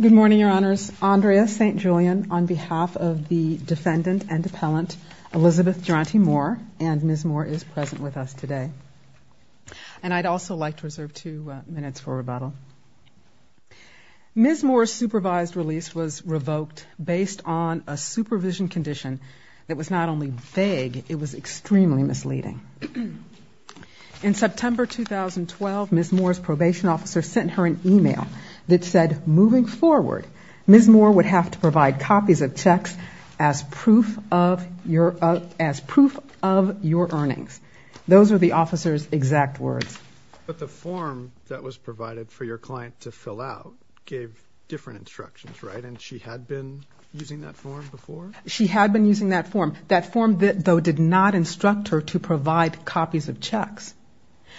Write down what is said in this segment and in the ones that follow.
Good morning, Your Honors. Andrea St. Julian on behalf of the defendant and appellant Elizabeth Duranty-Moore and Ms. Moore is present with us today. And I'd also like to reserve two minutes for rebuttal. Ms. Moore's supervised release was revoked based on a supervision condition that was not only vague, it was extremely misleading. In September 2012, Ms. Moore's probation officer sent her an email that said, moving forward, Ms. Moore would have to provide copies of checks as proof of your earnings. Those are the officer's exact words. But the form that was provided for your client to fill out gave different instructions, right? And she had been using that form before? She had been using that form. That form, though, did not instruct her to provide copies of checks.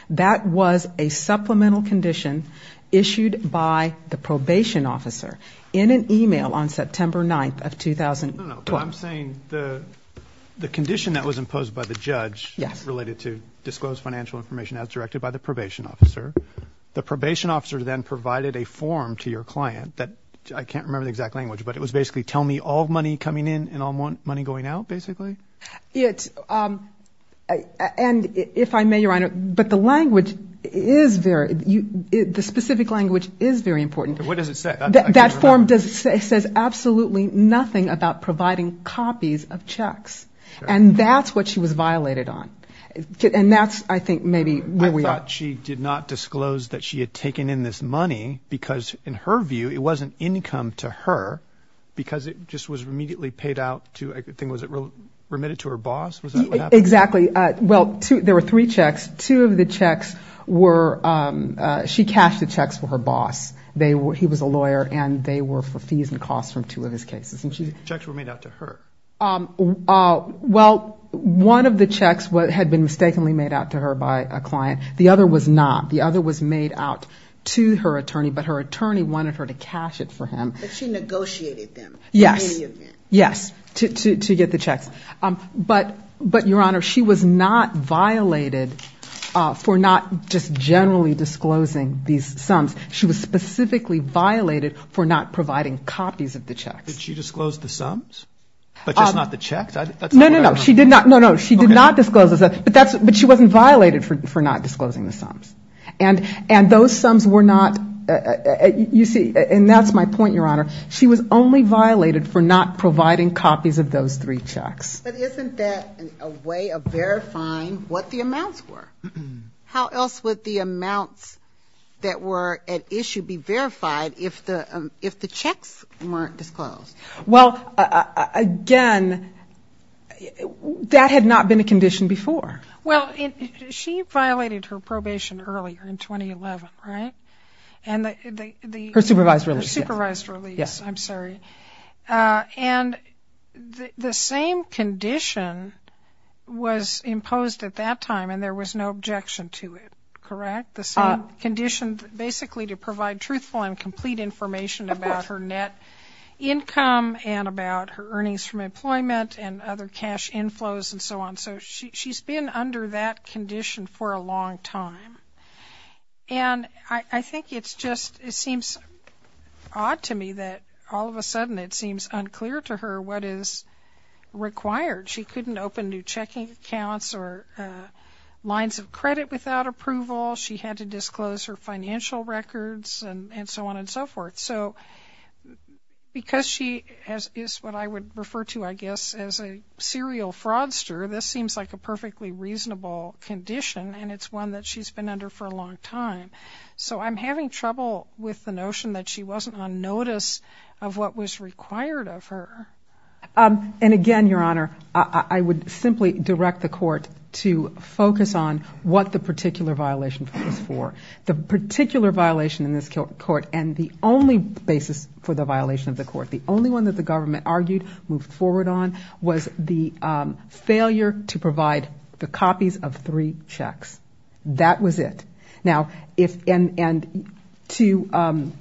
That was a supplemental condition issued by the probation officer in an email on September 9th of 2012. But I'm saying the condition that was imposed by the judge related to disclosed financial information as directed by the probation officer, the probation officer then provided a form to your client that I can't remember the exact language, but it was basically tell me all money coming in and all money going out, basically? And if I may, Your Honor, but the language is very, the specific language is very important. What does it say? That form says absolutely nothing about providing copies of checks. And that's what she was violated on. And that's, I think, maybe where we are. But she did not disclose that she had taken in this money because, in her view, it wasn't income to her, because it just was immediately paid out to, I think, was it remitted to her boss? Was that what happened? Exactly. Well, there were three checks. Two of the checks were, she cashed the checks for her boss. He was a lawyer, and they were for fees and costs from two of his cases. The checks were made out to her. Well, one of the checks had been mistakenly made out to her by a client. The other was not. The other was made out to her attorney, but her attorney wanted her to cash it for him. But she negotiated them. Yes. In any event. Yes, to get the checks. But, Your Honor, she was not violated for not just generally disclosing these sums. She was specifically violated for not providing copies of the checks. Did she disclose the sums, but just not the checks? No, no, no. She did not. No, no. She did not disclose the sums, but she wasn't violated for not disclosing the sums. And those sums were not, you see, and that's my point, Your Honor. She was only violated for not providing copies of those three checks. But isn't that a way of verifying what the amounts were? How else would the amounts that were at issue be verified if the checks weren't disclosed? Well, again, that had not been a condition before. Well, she violated her probation earlier in 2011, right? Her supervised release. Her supervised release. Yes. I'm sorry. And the same condition was imposed at that time, and there was no objection to it, correct? The same condition basically to provide truthful and complete information about her net income and about her earnings from employment and other cash inflows and so on. So she's been under that condition for a long time. And I think it's just, it seems odd to me that all of a sudden it seems unclear to her what is required. She couldn't open new checking accounts or lines of credit without approval. She had to disclose her financial records and so on and so forth. So because she is what I would refer to, I guess, as a serial fraudster, this seems like a perfectly reasonable condition, and it's one that she's been under for a long time. So I'm having trouble with the notion that she wasn't on notice of what was required of her. And again, Your Honor, I would simply direct the court to focus on what the particular violation is for. The particular violation in this court and the only basis for the violation of the court, the only one that the government argued, moved forward on, was the failure to provide the copies of three checks. That was it.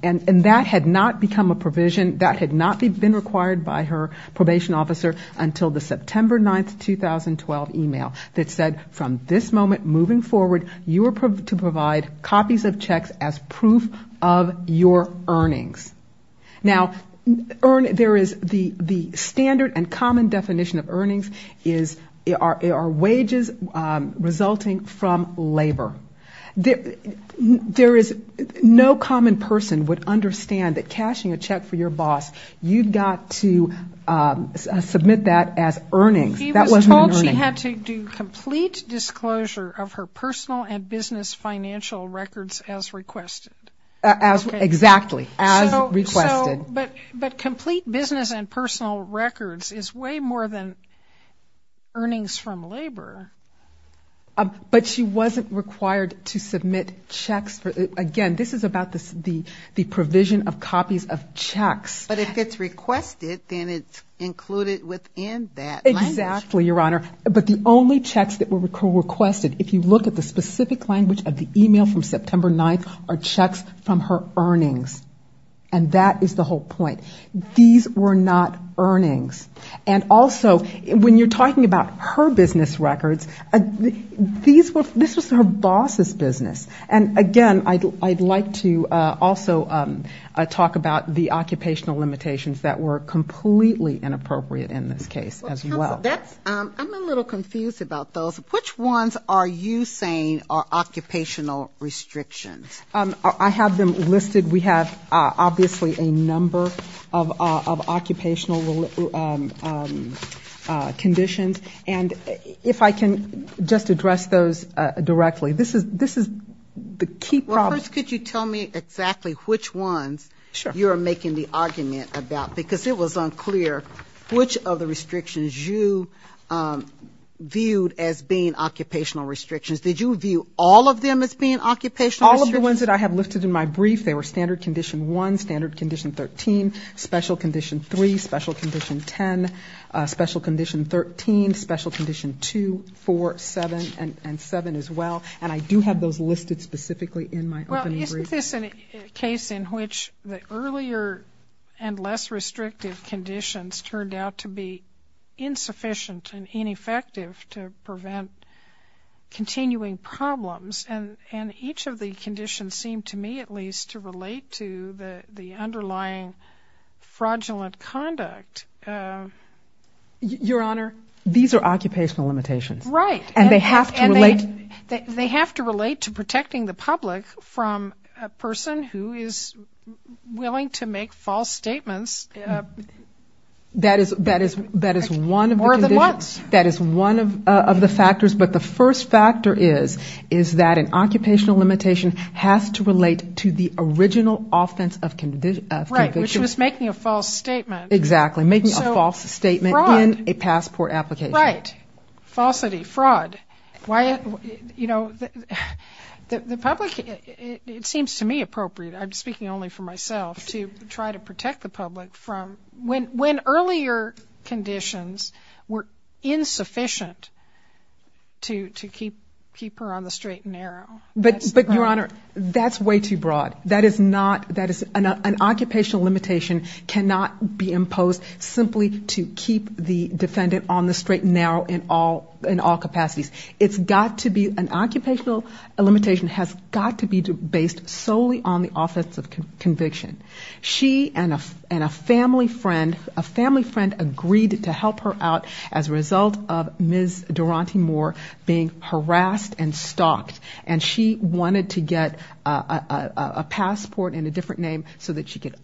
And that had not become a provision, that had not been required by her probation officer until the September 9, 2012 email that said from this moment moving forward you are to provide copies of checks as proof of your earnings. Now, there is the standard and common definition of earnings are wages resulting from labor. There is no common person would understand that cashing a check for your boss, you've got to submit that as earnings. That wasn't an earning. She had to do complete disclosure of her personal and business financial records as requested. Exactly, as requested. But complete business and personal records is way more than earnings from labor. But she wasn't required to submit checks. Again, this is about the provision of copies of checks. But if it's requested, then it's included within that language. Exactly, Your Honor. But the only checks that were requested, if you look at the specific language of the email from September 9, are checks from her earnings. And that is the whole point. These were not earnings. And also when you're talking about her business records, these were, this was her boss' business. And again, I'd like to also talk about the occupational limitations that were completely inappropriate in this case as well. I'm a little confused about those. Which ones are you saying are occupational restrictions? And if I can just address those directly, this is the key problem. Well, first could you tell me exactly which ones you are making the argument about? Because it was unclear which of the restrictions you viewed as being occupational restrictions. Did you view all of them as being occupational restrictions? All of the ones that I have listed in my brief, they were standard condition 1, standard condition 13, special condition 3, special condition 10, special condition 13, special condition 2, 4, 7, and 7 as well. And I do have those listed specifically in my opening brief. Well, isn't this a case in which the earlier and less restrictive conditions turned out to be insufficient and ineffective to prevent continuing problems? And each of the conditions seemed to me at least to relate to the underlying fraudulent conduct. Your Honor, these are occupational limitations. Right. And they have to relate to protecting the public from a person who is willing to make false statements more than once. Right. Which was making a false statement. Exactly. Making a false statement in a passport application. And why, you know, the public, it seems to me appropriate, I'm speaking only for myself, to try to protect the public from when earlier conditions were insufficient to keep her on the straight and narrow. But, Your Honor, that's way too broad. That is not, an occupational limitation cannot be imposed simply to keep the defendant on the straight and narrow in all capacities. It's got to be, an occupational limitation has got to be based solely on the office of conviction. She and a family friend, a family friend agreed to help her out as a result of Ms. Durante Moore being harassed and stalked. And she wanted to get a passport in a different name so that she could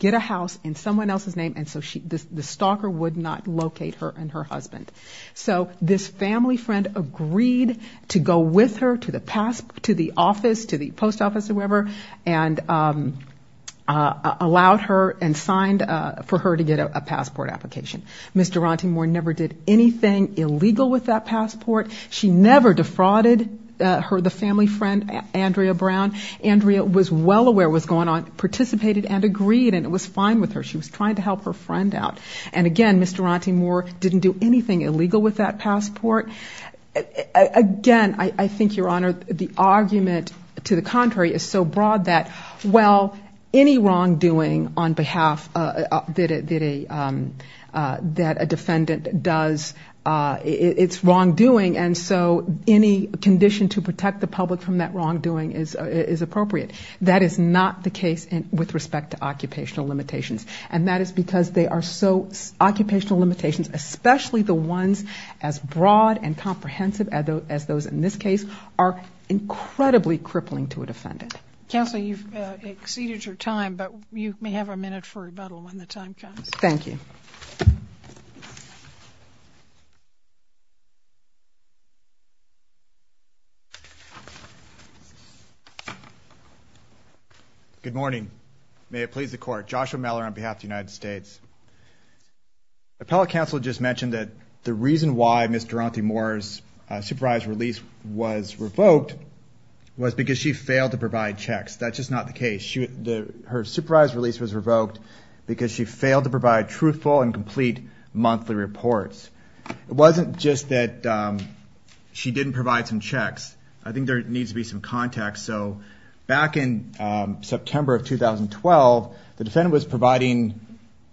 get a house in someone else's name and so the stalker would not locate her and her husband. So this family friend agreed to go with her to the post office or wherever and allowed her and signed for her to get a passport application. Ms. Durante Moore never did anything illegal with that passport. She never defrauded the family friend, Andrea Brown. Andrea was well aware what was going on, participated and agreed and it was fine with her. She was trying to help her friend out. And again, Ms. Durante Moore didn't do anything illegal with that passport. Again, I think, Your Honor, the argument to the contrary is so broad that, well, any wrongdoing on behalf that a defendant does, it's because the condition to protect the public from that wrongdoing is appropriate. That is not the case with respect to occupational limitations. And that is because they are so, occupational limitations, especially the ones as broad and comprehensive as those in this case, are incredibly crippling to a defendant. Counsel, you've exceeded your time, but you may have a minute for rebuttal when the time comes. Good morning. May it please the court. Joshua Miller on behalf of the United States. Appellate counsel just mentioned that the reason why Ms. Durante Moore's supervised release was revoked was because she failed to provide checks. That's just not the case. Her supervised release was revoked because she failed to provide truthful and complete monthly reports. It wasn't just that she didn't provide some checks. I think there needs to be some context. So back in September of 2012, the defendant was providing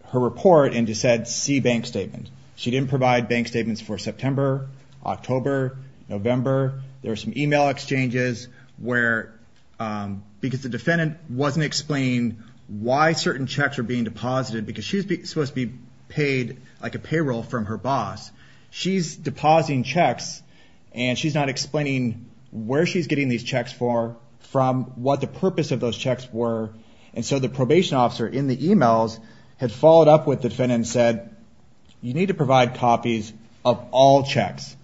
her report and just said, see bank statement. She didn't provide bank statements for September, October, November. There were some email exchanges where, because the defendant wasn't explaining why certain checks were being deposited. Because she was supposed to be paid like a payroll from her boss. She's depositing checks and she's not explaining where she's getting these checks for from what the purpose of those checks were. And so the probation officer in the emails had followed up with the defendant and said, you need to provide copies of all checks.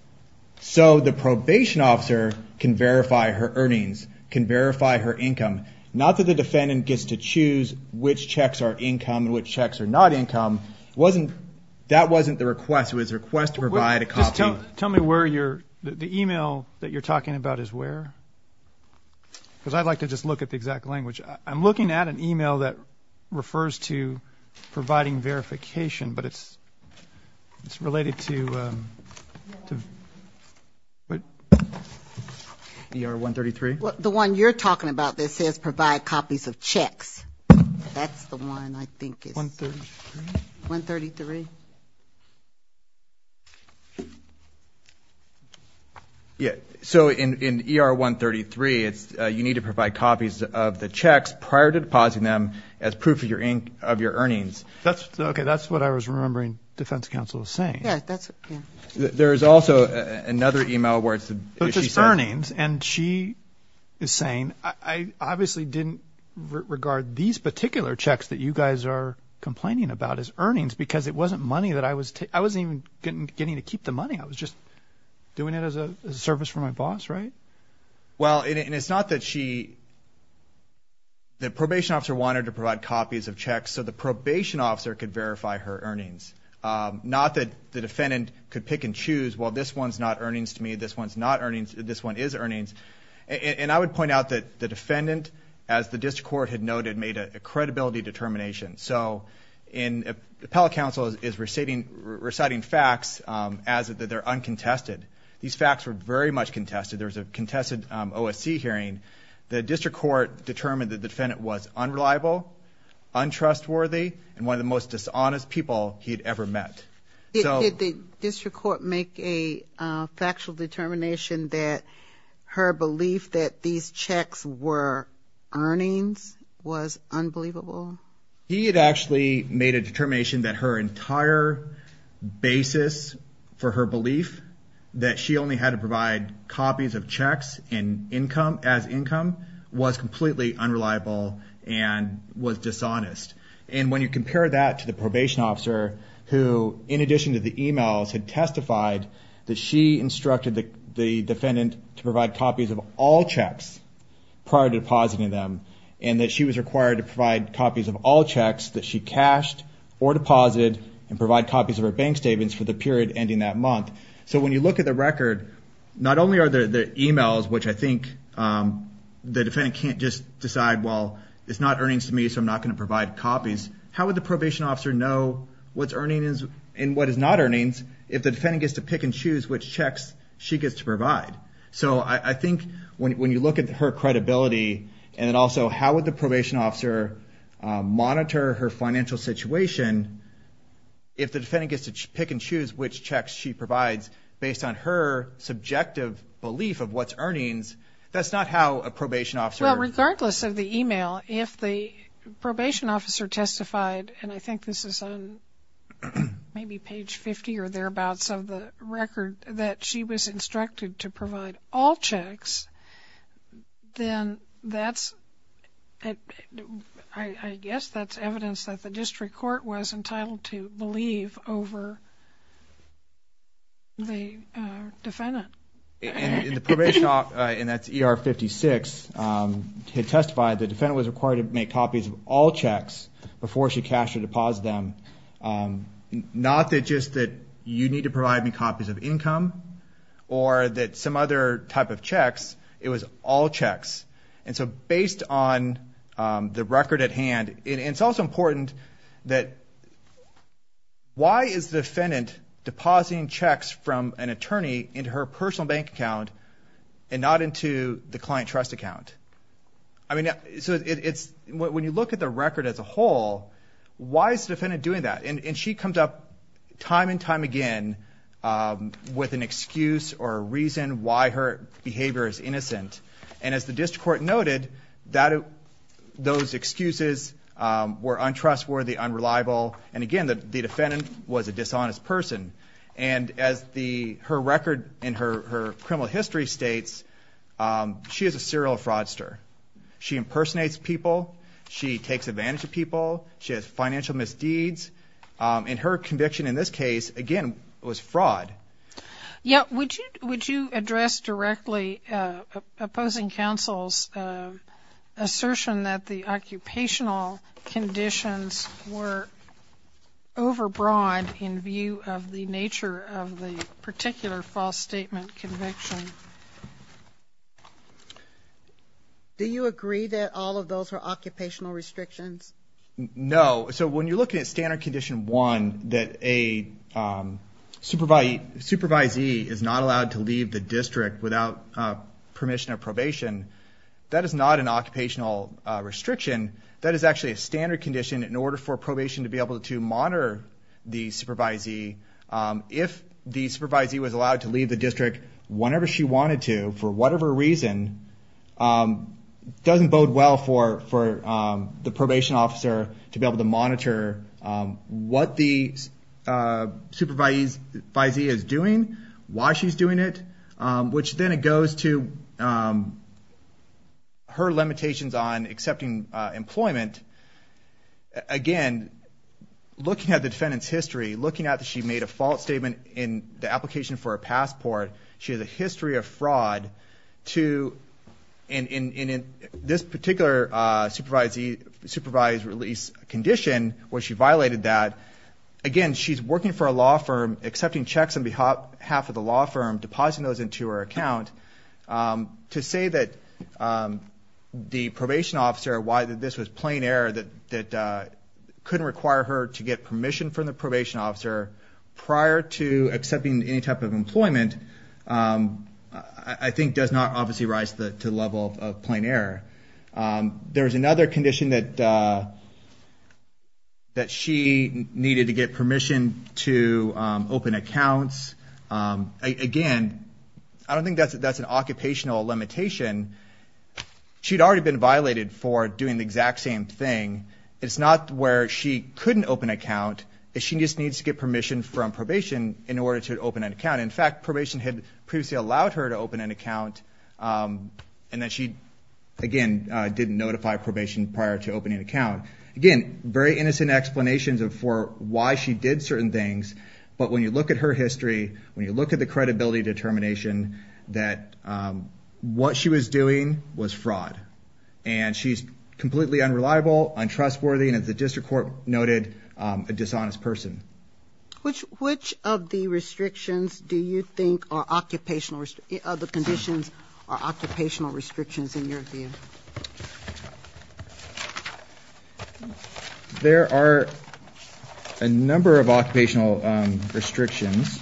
So the probation officer can verify her earnings, can verify her income. Not that the defendant gets to choose which checks are income and which checks are not income. Wasn't that wasn't the request. It was a request to provide a copy. Tell me where you're the email that you're talking about is where because I'd like to just look at the exact language. I'm looking at an email that refers to providing verification. But it's it's related to. But you are one thirty three. The one you're talking about this is provide copies of checks. That's the one I think one thirty one thirty three. Yeah. So in ER one thirty three it's you need to provide copies of the checks prior to depositing them as proof of your ink of your earnings. That's OK. That's what I was remembering. Defense counsel is saying that there is also another email where it's just earnings and she is saying I obviously didn't regard these particular checks as money that I was. I wasn't even getting to keep the money. I was just doing it as a service for my boss. Right. Well it's not that she the probation officer wanted to provide copies of checks. So the probation officer could verify her earnings. Not that the defendant could pick and choose. Well this one's not earnings to me. This one's not earnings. This one is earnings. And I would point out that the defendant as the district court had noted made a credibility determination. So in appellate counsel is reciting reciting facts as that they're uncontested. These facts were very much contested. There was a contested OSC hearing. The district court determined that the defendant was unreliable untrustworthy and one of the most dishonest people he'd ever met. Did the district court make a factual determination that her belief that these checks were earnings was unbelievable. He had actually made a determination that her entire basis for her belief that she only had to provide copies of checks and income as income was completely unreliable and was dishonest. And when you compare that to the probation officer who in addition to the e-mails had testified that she instructed the defendant to provide copies of all checks prior to depositing them and that she was required to provide copies of all checks that she cashed or deposited and provide copies of her bank statements for the period ending that month. So when you look at the record not only are the e-mails which I think the defendant can't just decide well it's not earnings to me so I'm not going to provide copies. How would the probation officer know what's earnings and what is not earnings if the defendant gets to pick and choose which checks she gets to provide. So I think when you look at her credibility and also how would the probation officer monitor her financial situation if the defendant gets to pick and choose which checks she provides based on her subjective belief of what's earnings that's not how a probation officer. Well regardless of the e-mail if the probation officer testified and I think this is on maybe page 50 or thereabouts of the record that she was instructed to provide all checks then that's I guess that's evidence that the district court was entitled to believe over the defendant. And the probation officer and that's ER 56 had testified the defendant was required to make copies of all checks before she cashed or deposited them. Not that just that you need to provide me copies of income or that some other type of checks it was all checks and so based on the record at hand it's also important that why is the defendant depositing checks from an attorney into her personal bank account and not into the client trust account. I mean so it's when you look at the record as a whole why is the defendant doing that and she comes up time and time again with an and the district court noted that those excuses were untrustworthy unreliable and again the defendant was a dishonest person and as the her record in her criminal history states she is a serial fraudster. She impersonates people she takes advantage of people she has financial misdeeds and her conviction in this case again was fraud. Yeah would you would you address directly opposing counsel's assertion that the occupational conditions were over broad in view of the nature of the particular false statement conviction. Do you agree that all of those are occupational restrictions? No so when you're looking at standard condition one that a supervisee is not allowed to leave the district without permission of probation that is not an occupational restriction that is actually a standard condition in order for probation to be able to monitor the supervisee if the supervisee was allowed to leave the district whenever she wanted to for whatever reason doesn't bode well for the probation officer to be able to monitor what the supervisee is doing why she's doing it which then it goes to her limitations on accepting employment again looking at the defendant's history looking at that she made a false statement in the application for a passport she has a history of fraud to and in this particular supervisee supervised release condition where she violated that again she's working for a law firm accepting checks on behalf of the law firm depositing those into her account to say that the probation officer why this was plain error that couldn't require her to get permission from the probation officer prior to accepting any type of employment I think does not obviously rise to the level of plain error there's another condition that she needed to get permission to open accounts again I don't think that's an occupational limitation she'd already been violated for doing the exact same thing it's not where she couldn't open an account she just needs to get permission from probation in order to open an account in fact probation had previously allowed her to open an account and then she again didn't notify probation prior to opening an account again very innocent explanations for why she did certain things but when you look at her history when you look at the credibility determination that what she was doing was fraud and she's completely unreliable untrustworthy and the district court noted a dishonest person which which of the restrictions do you think are occupational other conditions are occupational restrictions in your view there are a number of occupational restrictions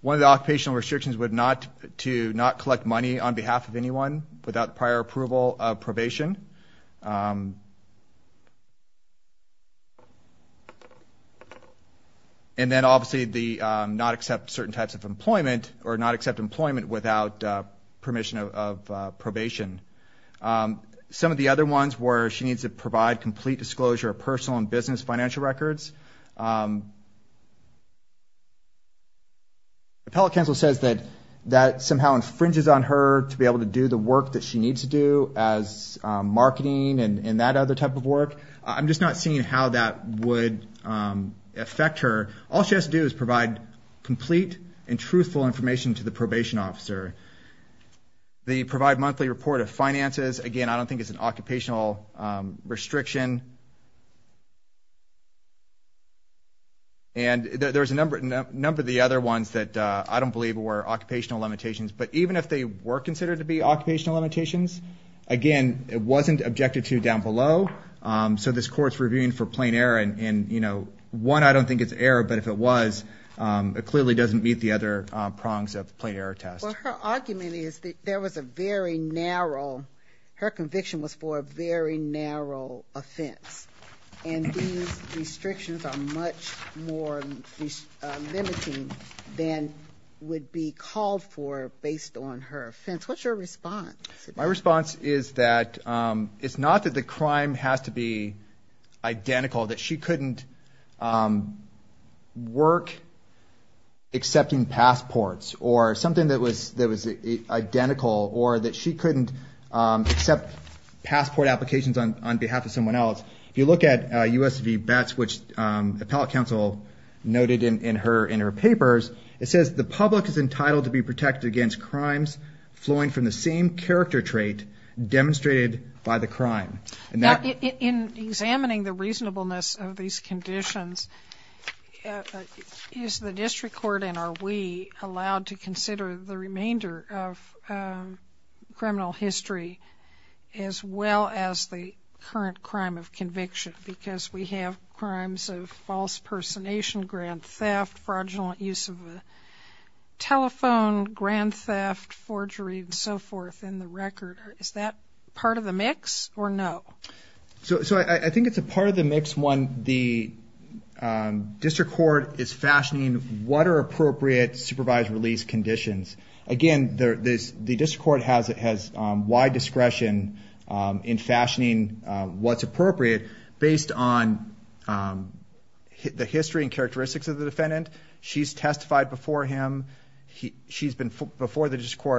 one of the occupational restrictions would not to not collect money on behalf of anyone without prior approval of probation and then obviously the not accept certain types of some of the other ones where she needs to provide complete disclosure of personal and business financial records appellate counsel says that that somehow infringes on her to be able to do the work that she needs to do as marketing and that other type of work I'm just not seeing how that would affect her all she has to do is provide complete and again I don't think it's an occupational restriction and there's a number of the other ones that I don't believe were occupational limitations but even if they were considered to be occupational limitations again it wasn't objected to down below so this court's reviewing for plain error and you know one I don't think it's error but if it was it clearly doesn't meet the other prongs of plain error test her conviction was for a very narrow offense and these restrictions are much more limiting than would be called for based on her offense what's your response my response is that it's not that the crime has to be identical that she couldn't work accepting passports or something that was that was identical or that she couldn't accept passport applications on behalf of someone else you look at usv bats which appellate counsel noted in her in her papers it says the public is entitled to be protected against crimes flowing from the same character trait demonstrated by the crime in examining the reasonableness of these conditions is the district court and are we allowed to consider the remainder of criminal history as well as the current crime of conviction because we have crimes of false personation grand theft fraudulent use of a telephone grand theft forgery so forth in the record is that part of the mix or no so so I think it's a part of the mix one the district court is fashioning what are appropriate supervised release conditions again this the district court has it has wide discretion in fashioning what's appropriate based on the history and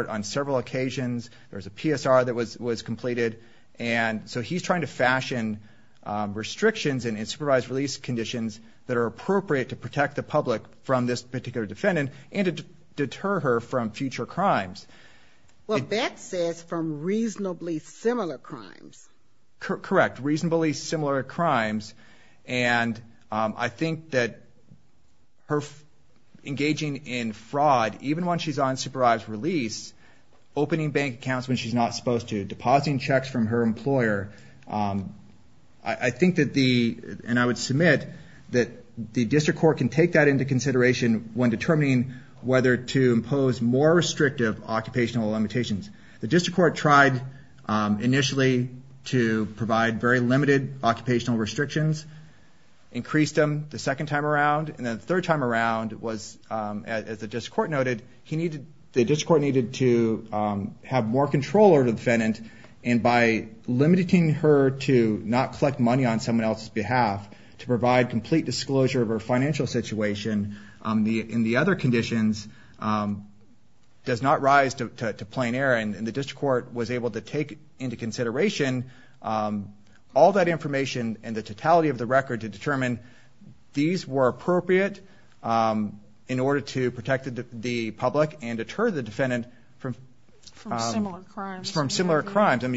on several occasions there's a PSR that was was completed and so he's trying to fashion restrictions and in supervised release conditions that are appropriate to protect the public from this particular defendant and deter her from future crimes well that says from reasonably similar crimes correct reasonably similar crimes and I think that her engaging in fraud even when she's on supervised release opening bank accounts when she's not supposed to depositing checks from her employer I think that the and I would submit that the district court can take that into consideration when determining whether to impose more restrictive occupational limitations the district court tried initially to provide very time around was as the district court noted he needed the district court needed to have more control over the defendant and by limiting her to not collect money on someone else's behalf to provide complete disclosure of her financial situation on the in the other conditions does not rise to plain air and the district court was able to take into consideration all that information and the totality of the record to determine these were appropriate in order to protect the public and deter the defendant from similar crimes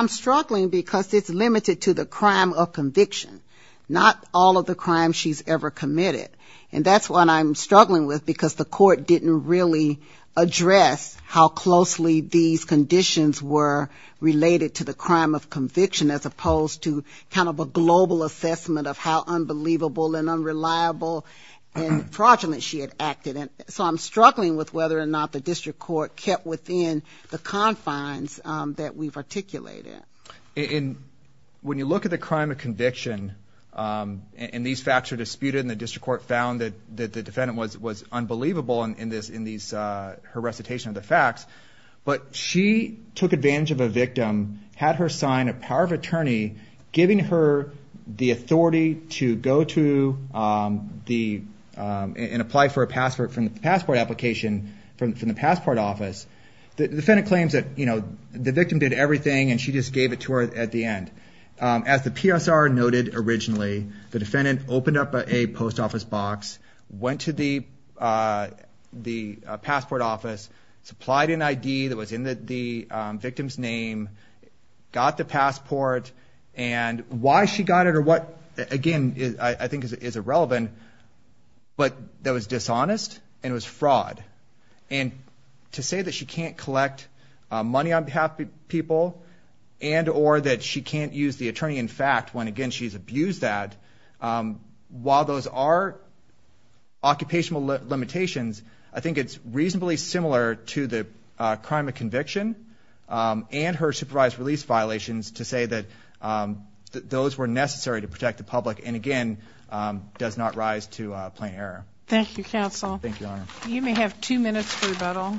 I'm struggling because it's limited to the crime of conviction not all of the crimes she's ever committed and that's what I'm struggling with because the court didn't really address how closely these conditions were related to the crime of conviction as opposed to kind of a global assessment of how unbelievable and unreliable and fraudulent she had acted and so I'm struggling with whether or not the district court kept within the confines that we've articulated when you look at the crime of conviction and these facts are disputed in the district court found that the defendant was unbelievable in her recitation of the facts but she took advantage of a victim had her sign a power of attorney giving her the authority to go to the and apply for a passport from the passport application from the passport office the defendant claims that the victim did everything and she just gave it to her at the end as the PSR noted originally the defendant opened up a post office box went to the passport office supplied an ID that was in the victim's name got the passport and why she got it or what again I think is irrelevant but that was dishonest and it was fraud and to say that she can't use the attorney in fact when again she's abused that while those are occupational limitations I think it's reasonably similar to the crime of conviction and her supervised release violations to say that those were necessary to protect the public and again does not rise to plain error. Thank you counsel. You may have two minutes for rebuttal.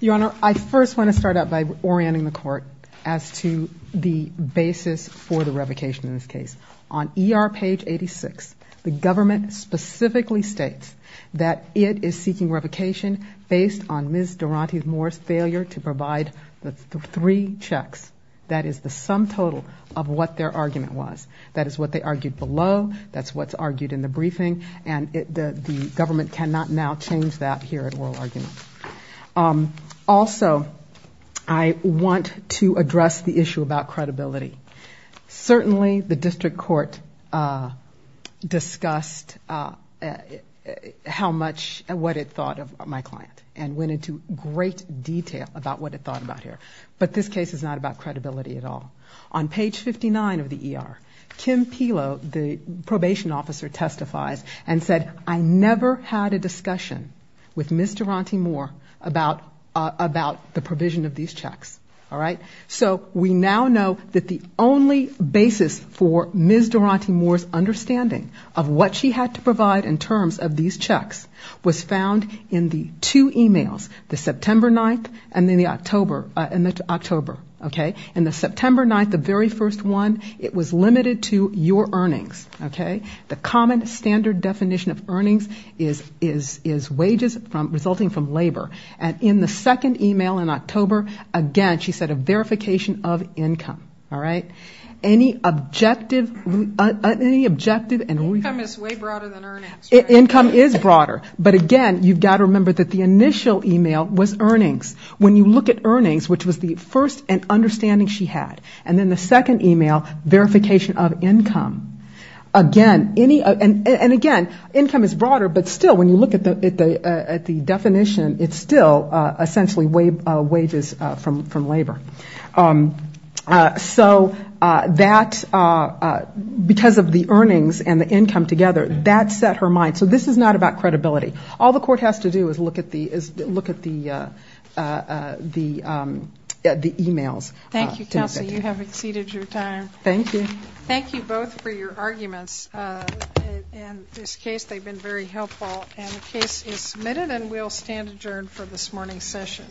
Your Honor I first want to start out by orienting the court as to the basis for the revocation in this case on ER page 86 the government specifically states that it is seeking revocation based on Ms. Durante Moore's failure to provide the three checks that is the sum total of what their argument was that is what they argued below that's what's argued in the briefing and the government cannot now change that here at oral argument. Also I want to address the issue about credibility certainly the district court discussed how much and what it thought of my client and went into great detail about what it thought about here but this case is not about Ms. Durante Moore, the probation officer testifies and said I never had a discussion with Ms. Durante Moore about the provision of these checks. So we now know that the only basis for Ms. Durante Moore's understanding of what she had to provide in terms of these checks was found in the two earnings. The common standard definition of earnings is wages resulting from labor. And in the second e-mail in October again she said a verification of income. Any objective and income is broader but again you've got to remember that the initial e-mail was earnings. When you look at earnings which was the first understanding she had and then the second e-mail verification of income, again income is broader but still when you look at the definition it's still essentially wages from labor. So that because of the earnings and the income together that set her mind. So this is not about credibility. All the court has to do is look at the e-mails. Thank you both for your arguments in this case. They've been very helpful and the case is submitted and we'll stand adjourned for this morning's session.